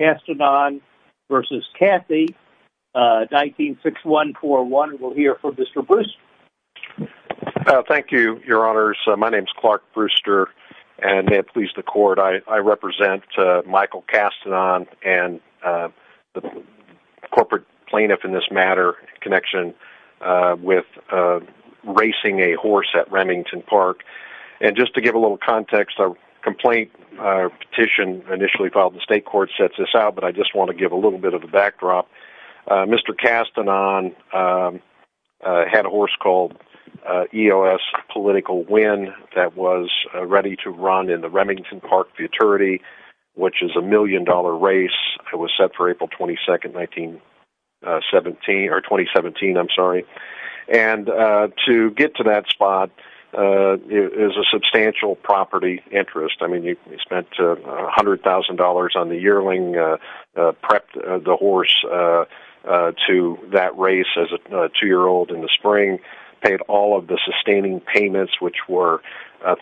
1961-4-1. We'll hear from Mr. Brewster. Thank you, your honors. My name is Clark Brewster and may it please the court, I represent Michael Castanon and the corporate plaintiff in this matter in connection with racing a horse at Remington Park. And just to give a little context, a complaint petition initially filed in the state court sets this out, but I just want to give a little bit of a backdrop. Mr. Castanon had a horse called EOS Political Win that was ready to run in the Remington Park Futurity, which is a million-dollar race that was set for April 22, 2017. And to get to that spot is a substantial property interest. I mean, he spent $100,000 on the yearling, prepped the horse to that race as a two-year-old in the spring, paid all of the sustaining payments, which were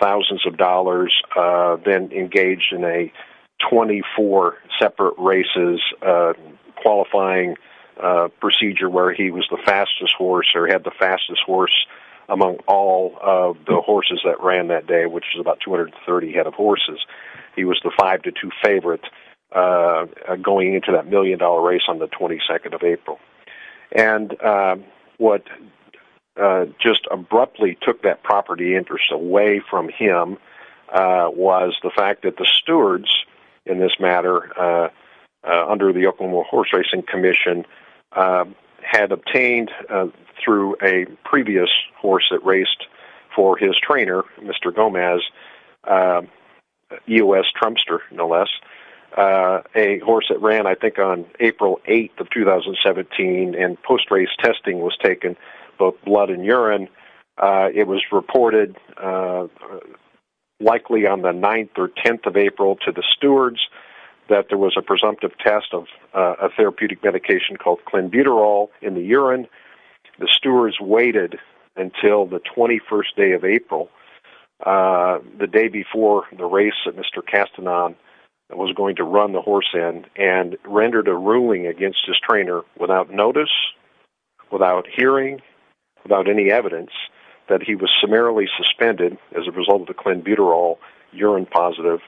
thousands of dollars, then engaged in a 24 separate races qualifying procedure where he was the fastest horse or had the fastest horse among all of the horses that ran that day, which was about 230 head of horses. He was the five to two favorite going into that million-dollar race on the 22nd of April. And what just abruptly took that property interest away from him was the fact that the stewards in this matter under the Oklahoma Horse Racing Commission had obtained through a previous horse that raced for his trainer, Mr. Gomez, EOS Trumster, no less, a horse that ran I think on and post-race testing was taken, both blood and urine. It was reported likely on the 9th or 10th of April to the stewards that there was a presumptive test of a therapeutic medication called clenbuterol in the urine. The stewards waited until the 21st day of April, the day before the race that Mr. Castanon was going to run the horse in and rendered a ruling against his trainer without notice, without hearing, without any evidence that he was summarily suspended as a result of the clenbuterol urine positive.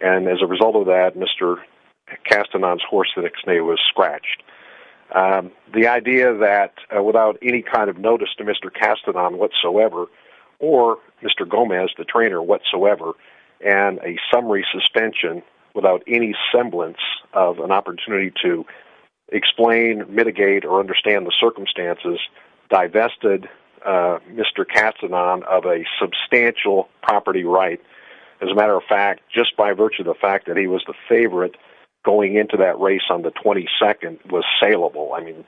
And as a result of that, Mr. Castanon's horse, the next day was scratched. The idea that without any kind of notice to Mr. Castanon whatsoever, or Mr. Gomez, the trainer whatsoever, and a summary suspension without any semblance of an opportunity to explain, mitigate, or understand the circumstances divested Mr. Castanon of a substantial property right. As a matter of fact, just by virtue of the fact that he was the favorite going into that race on the 22nd was saleable. I mean,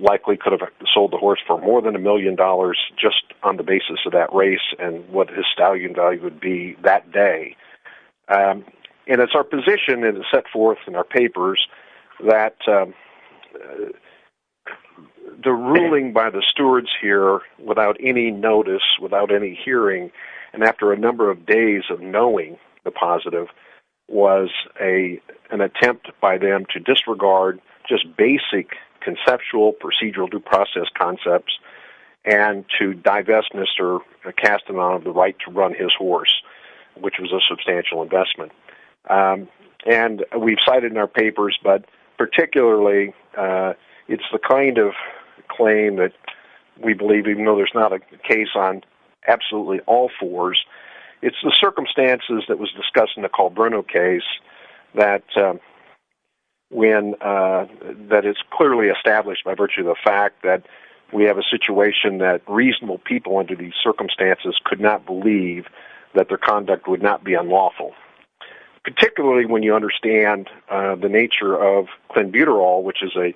likely could have sold the horse for more than a million dollars just on the basis of that race and what his stallion value would be that day. And it's our position and it's set forth in our papers that the ruling by the stewards here without any notice, without any hearing, and after a number of days of knowing the positive was an attempt by them to disregard just basic conceptual procedural due process concepts and to divest Mr. Castanon of the right to run his horse, which was a substantial investment. And we've cited in our papers, but particularly it's the kind of claim that we believe, even though there's not a case on absolutely all fours, it's the circumstances that was discussed in the Colbruno case that when, that it's clearly established by virtue of the we have a situation that reasonable people under these circumstances could not believe that their conduct would not be unlawful. Particularly when you understand the nature of clenbuterol, which is a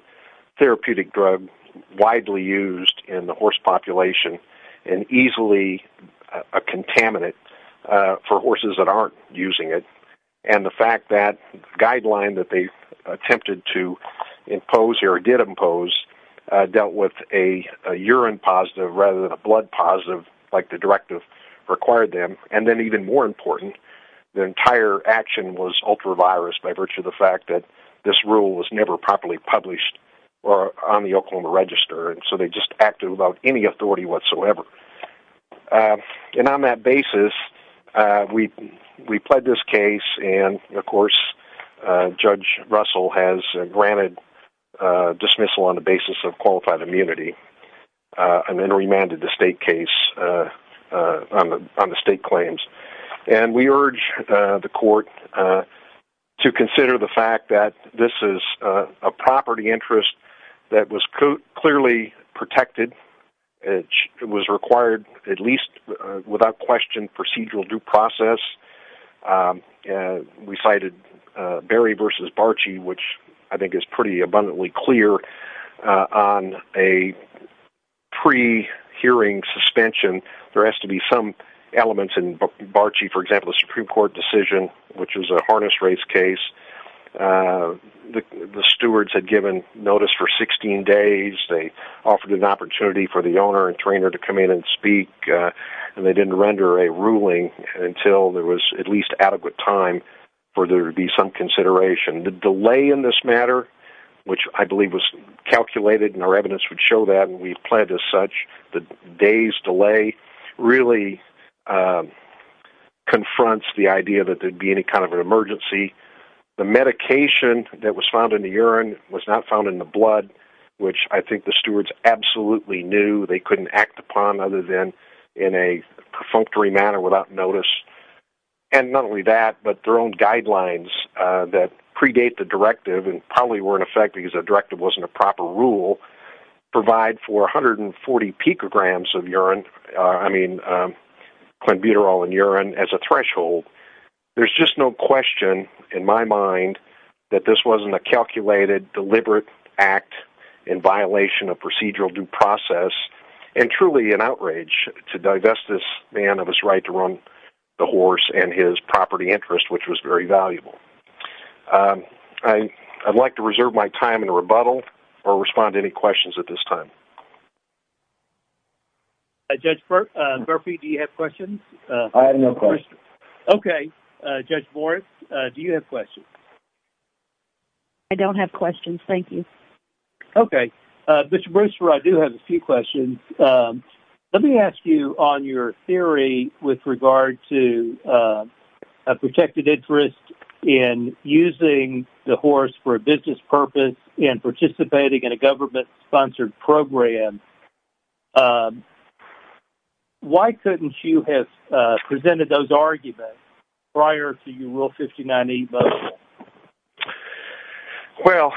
therapeutic drug widely used in the horse population and easily a contaminant for horses that aren't using it. And the fact that guideline that they attempted to dealt with a urine positive rather than a blood positive, like the directive required them. And then even more important, the entire action was ultra virus by virtue of the fact that this rule was never properly published or on the Oklahoma register. And so they just acted without any authority whatsoever. And on that basis, we, we pled this case and of course, Judge Russell has granted dismissal on the basis of qualified immunity and then remanded the state case on the state claims. And we urge the court to consider the fact that this is a property interest that was clearly protected. It was required at least without question, procedural due process. And we cited Barry versus Barchi, which I think is pretty abundantly clear on a pre hearing suspension. There has to be some elements in Barchi, for example, a Supreme Court decision, which was a harness race case. The stewards had given notice for 16 days, they offered an opportunity for the owner and trainer to come in and speak. And they didn't render a ruling until there was at least adequate time for there to be some consideration. The delay in this matter, which I believe was calculated and our evidence would show that and we pled as such, the day's delay really confronts the idea that there'd be any kind of an emergency. The medication that was found in the urine was not found in the blood, which I think the stewards absolutely knew they couldn't act upon other than in a perfunctory manner without notice. And not only that, but their own guidelines that predate the directive and probably were in effect because the directive wasn't a proper rule, provide for 140 picograms of urine. I mean, clenbuterol in urine as a threshold. There's just no question in my mind that this wasn't a calculated deliberate act in violation of procedural due process and truly an outrage to divest this man of his right to run the horse and his property interest, which was very valuable. I'd like to reserve my time in rebuttal or respond to any questions at this time. Judge Murphy, do you have questions? I have no question. Okay. Judge Morris, do you have questions? I don't have questions. Thank you. Okay. Mr. Brewster, I do have a few questions. Let me ask you on your theory with regard to a protected interest in using the horse for a business purpose and participating in a government-sponsored program. Why couldn't you have presented those arguments prior to your Rule 59E vote? Well,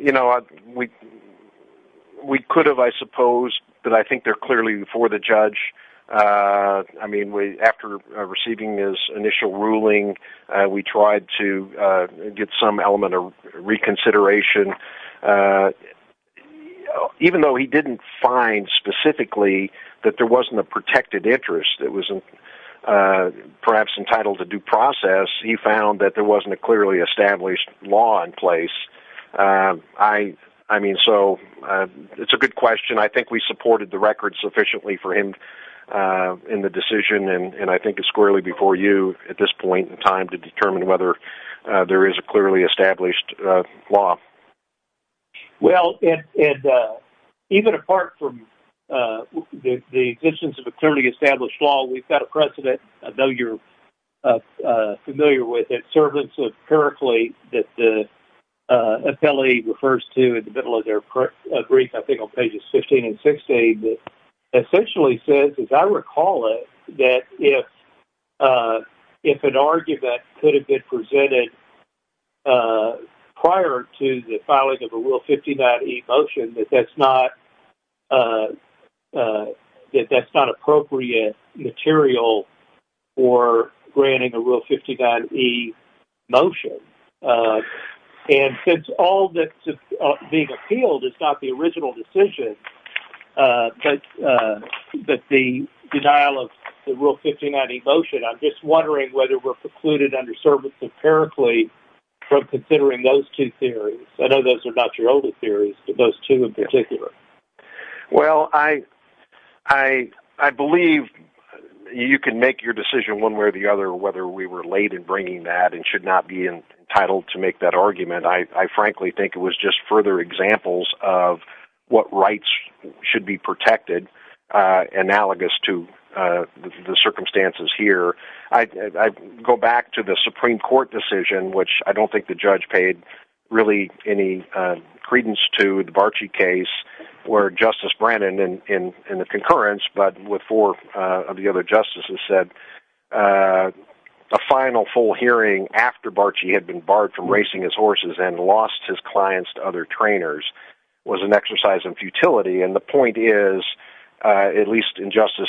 you know, we could have, I suppose, but I think they're clearly for the judge. I mean, after receiving his initial ruling, we tried to get some element of reconsideration. Even though he didn't find specifically that there wasn't a protected interest, it was perhaps entitled to due process, he found that there wasn't a clearly established law in place. I mean, so it's a good question. I think we supported the record sufficiently for him in the decision, and I think it's squarely before you at this point in time to determine whether there is a clearly established law. Well, even apart from the existence of a clearly established law, we've got a precedent. I know you're familiar with it. Servants of Pericles that the appellee refers to in the middle of their brief, I think on pages 15 and 16, that essentially says, as I recall it, that if an argument could have been presented prior to the filing of a Rule 59E motion, that that's not appropriate material for granting a Rule 59E motion. And since all that's being appealed is not the original decision, but the denial of the Rule 59E motion, I'm just wondering whether we're precluded under Servants of Pericles from considering those two theories. I know those are not your older theories, but those two in particular. Well, I believe you can make your decision one way or the other whether we were late in bringing that and should not be entitled to make that argument. I frankly think it was just further examples of what rights should be protected, analogous to the circumstances here. I'd go back to the Supreme Court decision, which I don't think the judge paid really any credence to the Barchi case where Justice Brennan in the concurrence, but with four of the other justices, said a final full hearing after Barchi had been barred from racing his horses and lost his clients to other trainers was an exercise in futility. And the point is, at least in Justice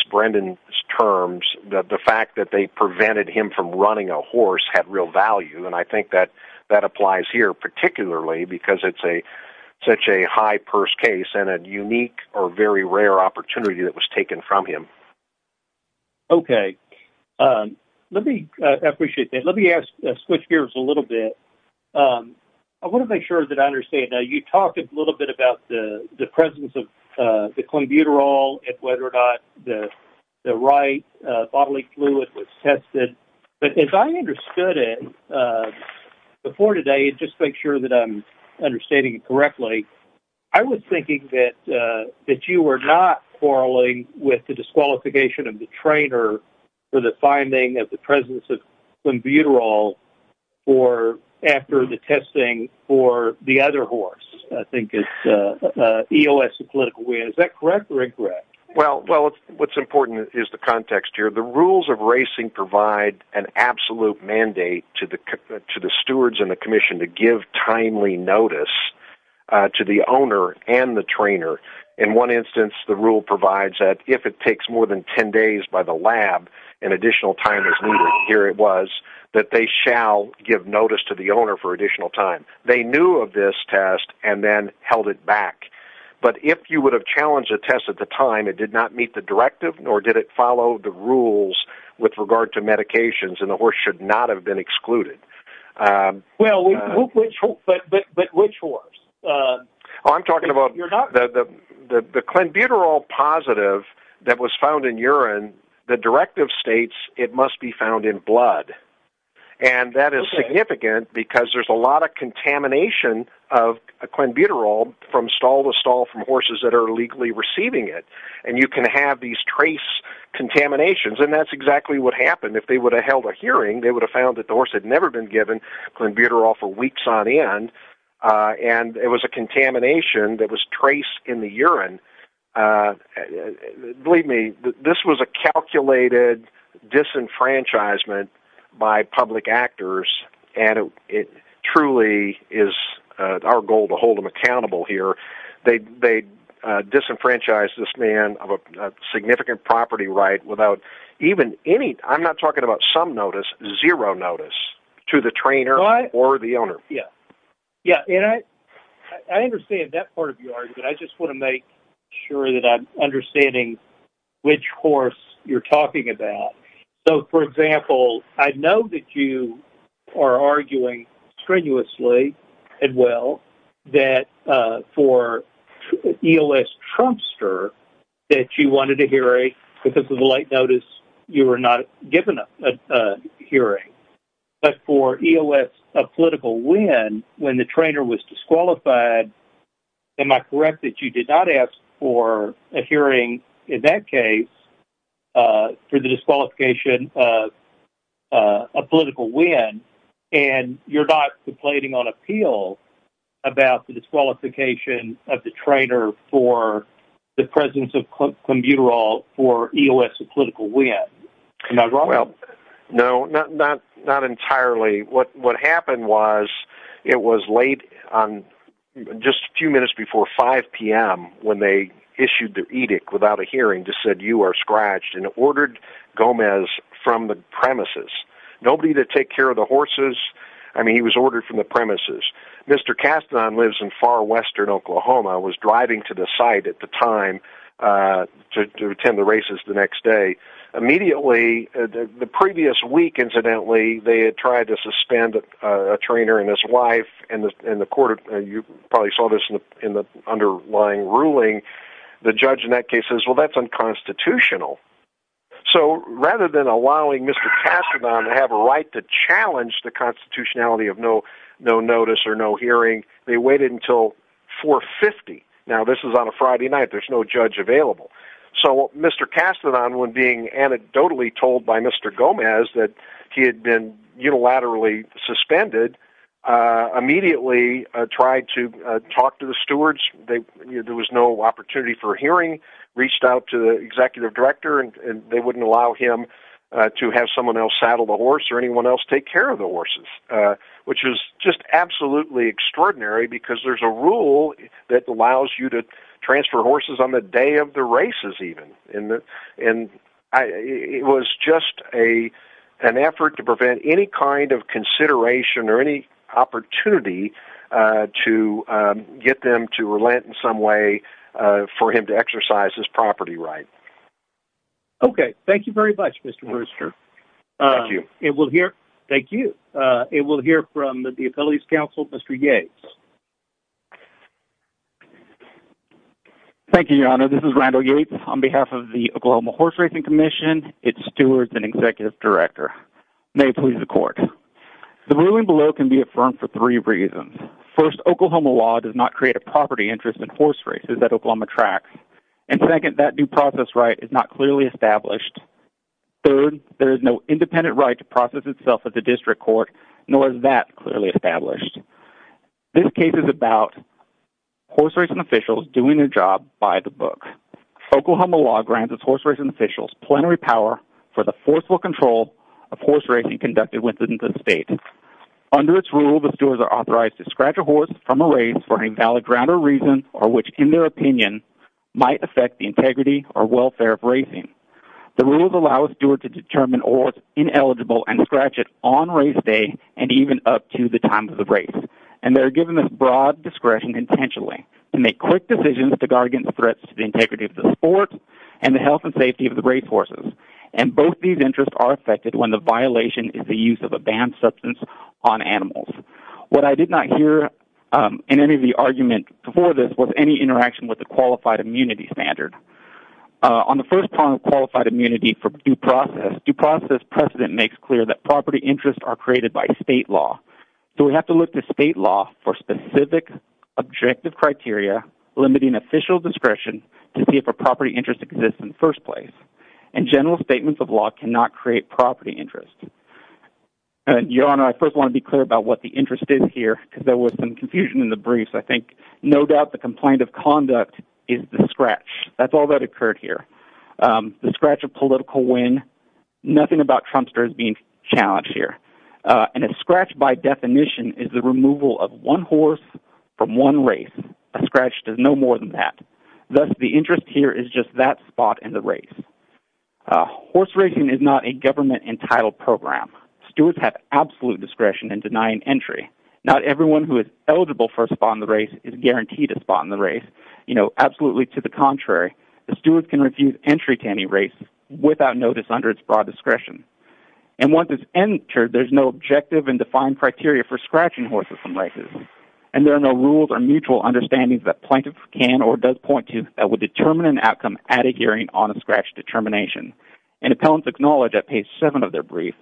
that they prevented him from running a horse had real value. And I think that applies here, particularly because it's a such a high purse case and a unique or very rare opportunity that was taken from him. Okay. Let me appreciate that. Let me switch gears a little bit. I want to make sure that I understand that you talked a little bit about the presence of the tested. But if I understood it before today, just make sure that I'm understanding it correctly. I was thinking that you were not quarreling with the disqualification of the trainer for the finding of the presence of flambuterol after the testing for the other horse. I think it's EOS in a political way. Is that correct or incorrect? Well, what's important is the context here. The rules of racing provide an absolute mandate to the stewards and the commission to give timely notice to the owner and the trainer. In one instance, the rule provides that if it takes more than 10 days by the lab, an additional time is needed. Here it was that they shall give notice to the owner for additional time. They knew of this test and then held it back. But if you would challenge a test at the time, it did not meet the directive, nor did it follow the rules with regard to medications, and the horse should not have been excluded. Which horse? I'm talking about the flambuterol positive that was found in urine. The directive states it must be found in blood. That is significant because there's a lot of contamination of flambuterol from stall legally receiving it. And you can have these trace contaminations, and that's exactly what happened. If they would have held a hearing, they would have found that the horse had never been given flambuterol for weeks on end, and it was a contamination that was traced in the urine. Believe me, this was a calculated disenfranchisement by public actors, and it truly is our goal to hold them accountable here. They disenfranchised this man of a significant property right without even any, I'm not talking about some notice, zero notice to the trainer or the owner. Yeah, and I understand that part of your argument. I just want to make sure that I'm understanding which horse you're talking about. So, for example, I know that you are arguing strenuously and well that for EOS Trumpster that you wanted a hearing because of the late notice you were not given a hearing. But for EOS of Political Win, when the trainer was disqualified, am I correct that you did not ask for a hearing in that case for the disqualification of a Political Win, and you're not complaining on appeal about the disqualification of the trainer for the presence of flambuterol for EOS of Political Win? No, not entirely. What happened was it was late on just a few minutes before 5 p.m. when they issued the edict without a hearing that said, you are scratched and ordered Gomez from the premises. Nobody to take care of the horses. I mean, he was ordered from the premises. Mr. Kastan lives in far western Oklahoma, was driving to the site at the time to attend the races the next day. Immediately, the previous week, incidentally, they had tried to suspend a trainer and his wife in the court. You probably saw this in the underlying ruling. The judge in that case says, well, that's unconstitutional. So rather than allowing Mr. Kastan to have a right to challenge the constitutionality of no notice or no hearing, they waited until 4.50. Now, this is on a Friday night. There's no judge available. So Mr. Kastan, when being anecdotally told by Mr. Gomez that he had been unilaterally suspended, immediately tried to talk to the stewards. There was no opportunity for a hearing. Reached out to the executive director and they wouldn't allow him to have someone else saddle the horse or anyone else take care of the horses, which is just absolutely extraordinary because there's a rule that allows you to transfer horses on the day of the races even. And it was just an effort to prevent any kind of consideration or any opportunity to get them to relent in some way for him to exercise his property right. Okay. Thank you very much, Mr. Brewster. Thank you. It will hear... Thank you. It will hear from the Affiliates Council, Mr. Yates. Thank you, Your Honor. This is Randall Yates on behalf of the Oklahoma Horse Racing Commission, its stewards and executive director. May it please the court. The ruling below can be affirmed for three reasons. First, Oklahoma law does not create a property interest in horse races that Oklahoma tracks. And second, that due process right is not clearly established. Third, there is no independent right to process itself at the district court, nor is that clearly established. This case is about horse racing officials doing their job by the book. Oklahoma law grants its horse racing officials plenary power for the forceful control of horse racing conducted within the state. Under its rule, the stewards are authorized to scratch a horse from a race for an invalid ground or reason or which, in their opinion, might affect the integrity or welfare of racing. The rules allow a steward to determine a horse ineligible and scratch it on race day and even up to the time of the race. And they're given this broad discretion intentionally to make quick decisions to guard against threats to the integrity of the sport and the health and safety of the racehorses. And both these interests are affected when the violation is the use of a banned substance on animals. What I did not hear in any of the argument before this was any interaction with the qualified immunity standard. On the first part of qualified immunity for due process, due process precedent makes clear that state law for specific objective criteria limiting official discretion to see if a property interest exists in the first place. And general statements of law cannot create property interest. Your Honor, I first want to be clear about what the interest is here because there was some confusion in the briefs. I think no doubt the complaint of conduct is the scratch. That's all that occurred here. The scratch of political win. Nothing about Trumpsters being challenged here. And a scratch, by definition, is the removal of one horse from one race. A scratch does no more than that. Thus, the interest here is just that spot in the race. Horse racing is not a government-entitled program. Stewards have absolute discretion in denying entry. Not everyone who is eligible for a spot in the race is guaranteed a spot in the race. You know, absolutely to the contrary, a steward can refuse entry to any race without notice under its broad discretion. And once it's entered, there's no objective and defined criteria for scratching horses from racism. And there are no rules or mutual understandings that plaintiff can or does point to that would determine an outcome at a hearing on a scratch determination. And appellants acknowledge at page seven of their brief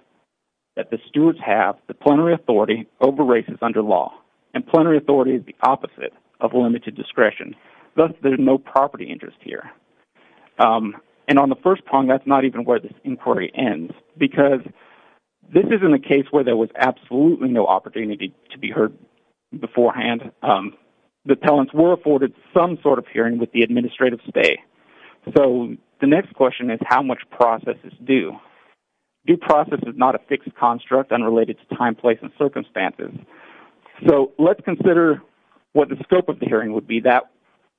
that the stewards have the plenary authority over races under law. And plenary authority is the opposite of limited discretion. Thus, there's no property interest here. And on the first prong, that's not even where this inquiry ends, because this isn't a case where there was absolutely no opportunity to be heard beforehand. The appellants were afforded some sort of hearing with the administrative stay. So the next question is, how much process is due? Due process is not a fixed construct unrelated to time, place, and circumstances. So let's consider what the scope of the hearing would be.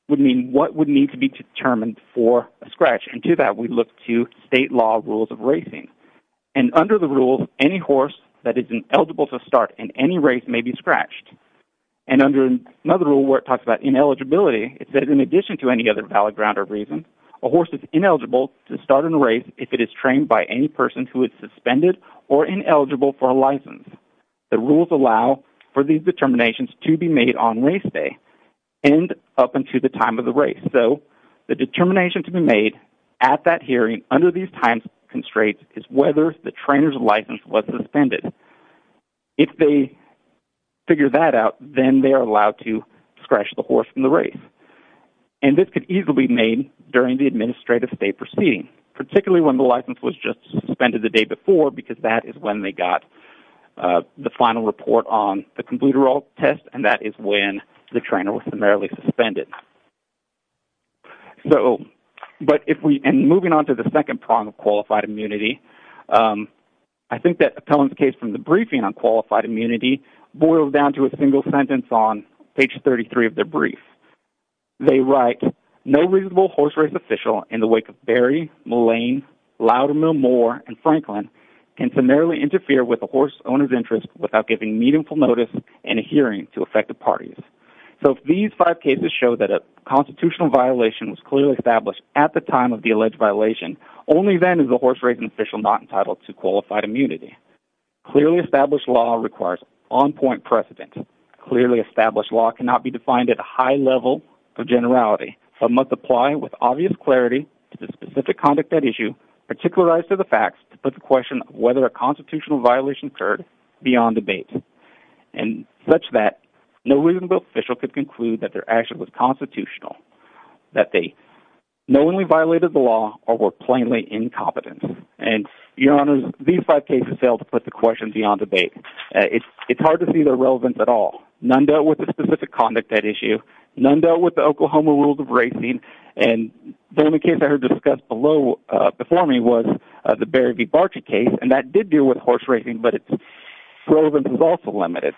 What would need to be determined for a scratch? And to that, we look to state law rules of racing. And under the rules, any horse that isn't eligible to start in any race may be scratched. And under another rule where it talks about ineligibility, it says, in addition to any other valid ground or reason, a horse is ineligible to start in a race if it is trained by any person who is suspended or ineligible for a license. The rules allow for these determinations to be on race day and up until the time of the race. So the determination to be made at that hearing under these time constraints is whether the trainer's license was suspended. If they figure that out, then they are allowed to scratch the horse in the race. And this could easily be made during the administrative stay proceeding, particularly when the license was just suspended the day before, because that is when they got the final report on the complete or all test, and that is when the trainer was primarily suspended. So, but if we, and moving on to the second prong of qualified immunity, I think that Appellant's case from the briefing on qualified immunity boils down to a single sentence on page 33 of their brief. They write, no reasonable horse race official in the wake of horse owner's interest without giving meaningful notice and adhering to effective parties. So these five cases show that a constitutional violation was clearly established at the time of the alleged violation. Only then is the horse racing official not entitled to qualified immunity. Clearly established law requires on point precedent. Clearly established law cannot be defined at a high level of generality. Some must apply with obvious clarity to the specific conduct at issue, particularized to the facts to put the question of whether a constitutional violation occurred beyond debate. And such that no reasonable official could conclude that their action was constitutional, that they knowingly violated the law or were plainly incompetent. And your honors, these five cases fail to put the question beyond debate. It's hard to see their relevance at all. None dealt with the specific conduct at issue. None dealt with the Oklahoma rules of racing. And the only case I heard discussed below before me was the Barry v. Barchi case. And that did deal with horse racing, but its relevance was also limited.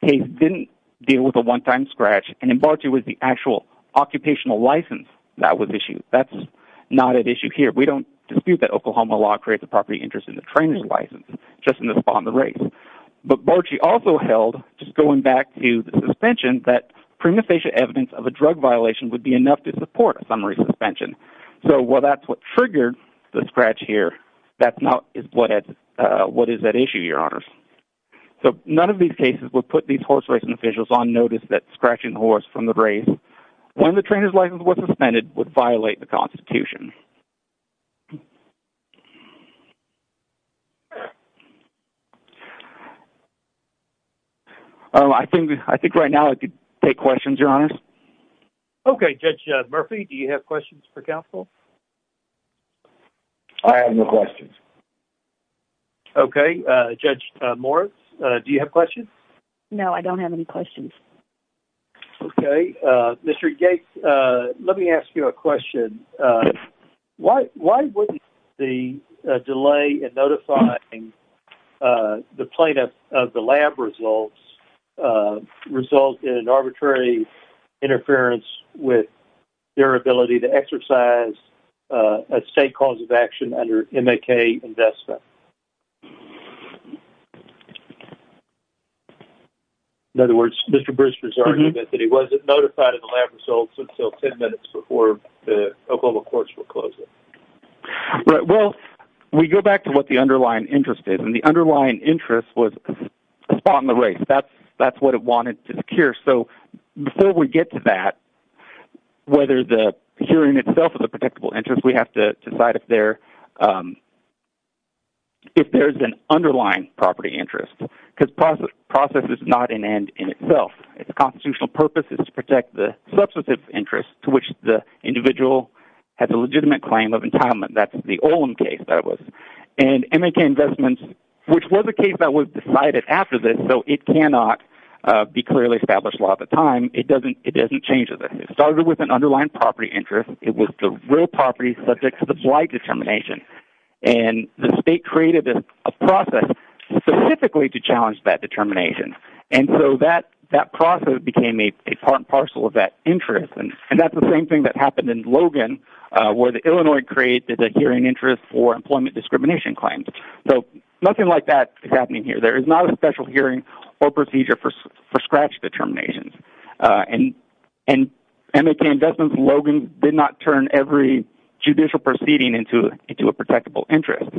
The case didn't deal with a one-time scratch. And in Barchi was the actual occupational license that was issued. That's not at issue here. We don't dispute that Oklahoma law creates a property interest in the trainer's license, just in the spawn of the race. But Barchi also held, just going back to the suspension, that prima facie evidence of a drug violation would be enough to support a summary suspension. So while that's what triggered the scratch here, that's not what is at issue, your honors. So none of these cases would put these horse racing officials on notice that scratching horse from the race when the trainer's license wasn't suspended would violate the constitution. Oh, I think right now I could take questions, your honors. Okay. Judge Murphy, do you have questions for counsel? I have no questions. Okay. Judge Morris, do you have questions? No, I don't have any questions. Okay. Mr. Gates, let me ask you a question. Why wouldn't the delay in notifying the plaintiff of the lab results result in an arbitrary interference with their ability to exercise a state cause of action under MAK investment? In other words, Mr. Brewster's argument that he wasn't notified of the lab results until 10 minutes before the Oklahoma courts would close it. Well, we go back to what the underlying interest is, and the underlying interest was a spot on the race. That's what it wanted to secure. So before we get to that, whether the securing itself is a predictable interest, we have to decide if there's an underlying property interest, because process is not an end in itself. The constitutional purpose is to protect the substantive interest to which the individual has a legitimate claim of entitlement. That's the Olin case that it was. And MAK investment, which was a case that was decided after this, so it cannot be clearly established law at the time, it doesn't change it. It started with an underlying property interest. It was the real property subject to the flight determination. And the state created a process specifically to challenge that determination. And so that process became a part and parcel of that interest. And that's the same thing that happened in Logan, where the Illinois created a hearing interest for employment discrimination claims. So nothing like that is happening here. There is not a special hearing or procedure for scratch determinations. In MAK investments, Logan did not turn every judicial proceeding into a protectable interest.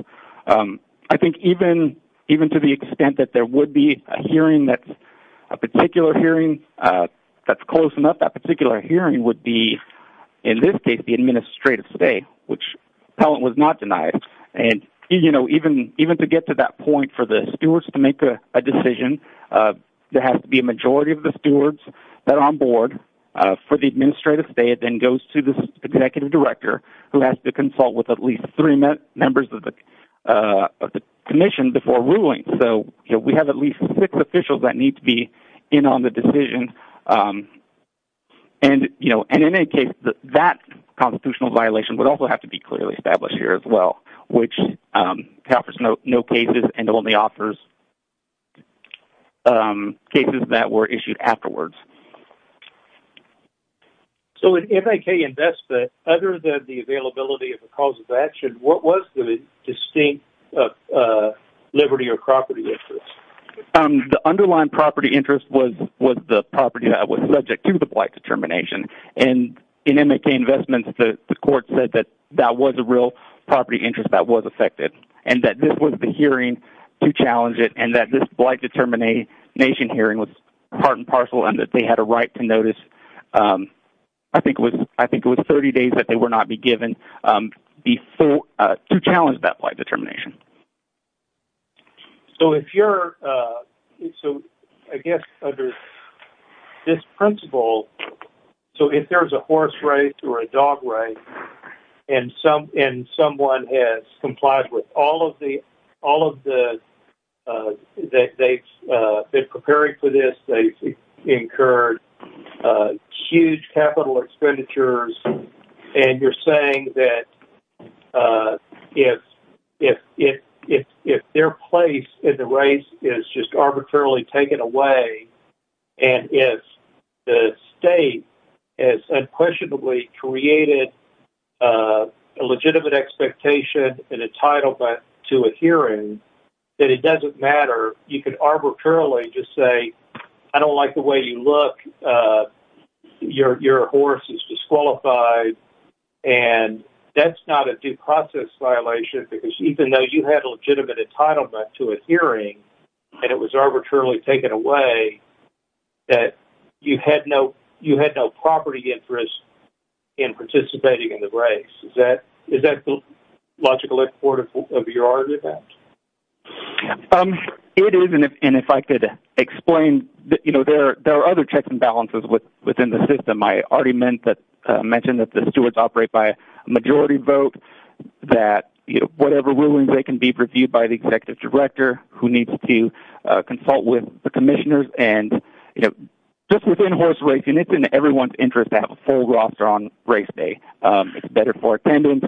I think even to the extent that there would be a hearing that's a particular hearing that's close enough, that particular hearing would be, in this case, the administrative stay, which Pellant was not denied. And even to get to that point for the stewards to make a decision, there has to be a majority of the stewards that are on board for the administrative stay. It then goes to the executive director, who has to consult with at least three members of the commission before ruling. So we have at least six officials that need to be in on the decision. And in any case, that constitutional violation would also have to be clearly established here as well, which offers no cases and only offers cases that were issued afterwards. So in MAK investment, other than the availability of a cause of action, what was the distinct property interest? The underlying property interest was the property that was subject to the blight determination. In MAK investments, the court said that that was a real property interest that was affected and that this was the hearing to challenge it and that this blight determination hearing was part and parcel and that they had a right to notice, I think it was 30 days that they would not be given to challenge that blight determination. So if you're... So I guess under this principle... So if there's a horse race or a dog race and someone has complied with all of the... They've prepared for this. They've incurred huge capital expenditures and you're saying that if their place in the race is just arbitrarily taken away and if the state has unquestionably created a legitimate expectation and entitlement to a hearing, that it doesn't matter. You could arbitrarily just say, I don't like the way you look. Your horse is disqualified and that's not a due process violation because even though you had a legitimate entitlement to a hearing and it was arbitrarily taken away, that you had no property interest in participating in the race. Is that the There are other checks and balances within the system. I already mentioned that the stewards operate by majority vote, that whatever rulings they can be reviewed by the executive director who needs to consult with the commissioners and just within horse racing, it's in everyone's interest to have a full roster on race day. It's better for attendance.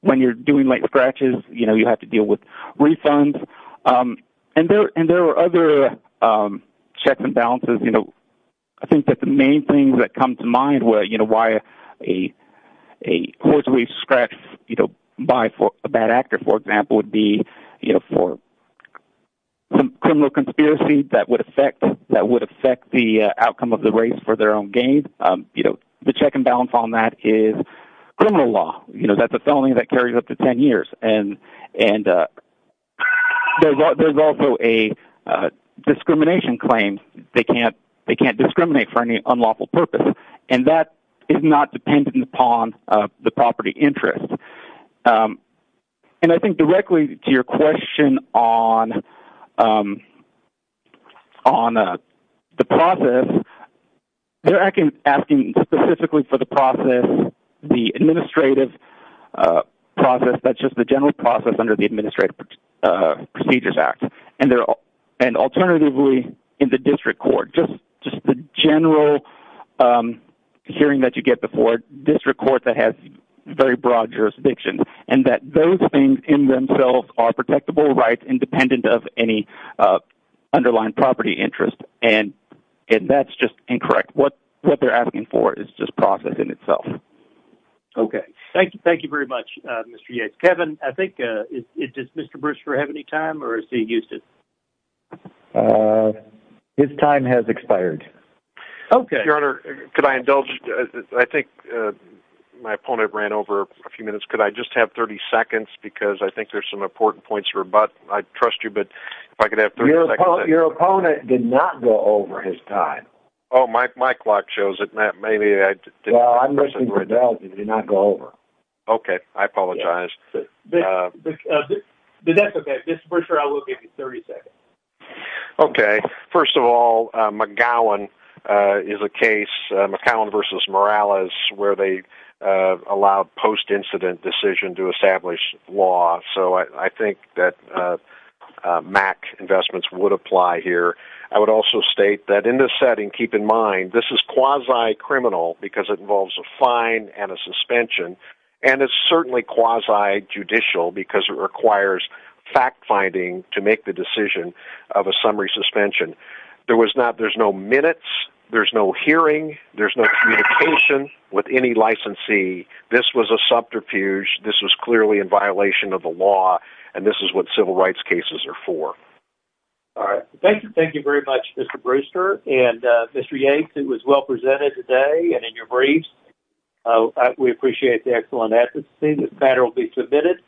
When you're doing scratches, you have to deal with refunds and there are other checks and balances. I think that the main thing that comes to mind where why a horse race scratch by a bad actor, for example, would be for some criminal conspiracy that would affect the outcome of the race for their own gain. The check and balance on that is criminal law. That's a felony that carries up to 10 years. There's also a discrimination claim. They can't discriminate for any unlawful purpose and that is not dependent upon the property interest. I think directly to your question on the process, they're asking specifically for the process, the administrative process, that's just the general process under the Administrative Procedures Act. Alternatively, in the district court, just the general hearing that you get before district court that has very broad jurisdictions and that those things in themselves are protectable rights independent of any underlying property interest. That's just incorrect. What they're asking for is just process in itself. Thank you very much, Mr. Yates. Kevin, I think, does Mr. Brewster have any time or is he used it? His time has expired. Your Honor, could I indulge? I think my opponent ran over a few minutes. Could I just have 30 seconds because I think there's some important points I'd trust you, but if I could have 30 seconds. Your opponent did not go over his time. Oh, my clock shows it, Matt. Maybe I did not go over. Okay, I apologize. The deficit, Mr. Brewster, I will give you 30 seconds. Okay. First of all, McGowan is a case, McCown v. Morales, where they allowed post-incident decision to establish law, so I think that MAC investments would apply here. I would also state that in this setting, keep in mind, this is quasi-criminal because it involves a fine and a suspension, and it's certainly quasi-judicial because it requires fact-finding to make the decision of a summary suspension. There's no minutes, there's no hearing, there's no communication with any licensee. This was a subterfuge. This was clearly in violation of the law, and this is what civil rights cases are for. All right. Thank you. Thank you very much, Mr. Brewster and Mr. Yates. It was well presented today and in your briefs. We appreciate the excellent ethics. This matter will be submitted.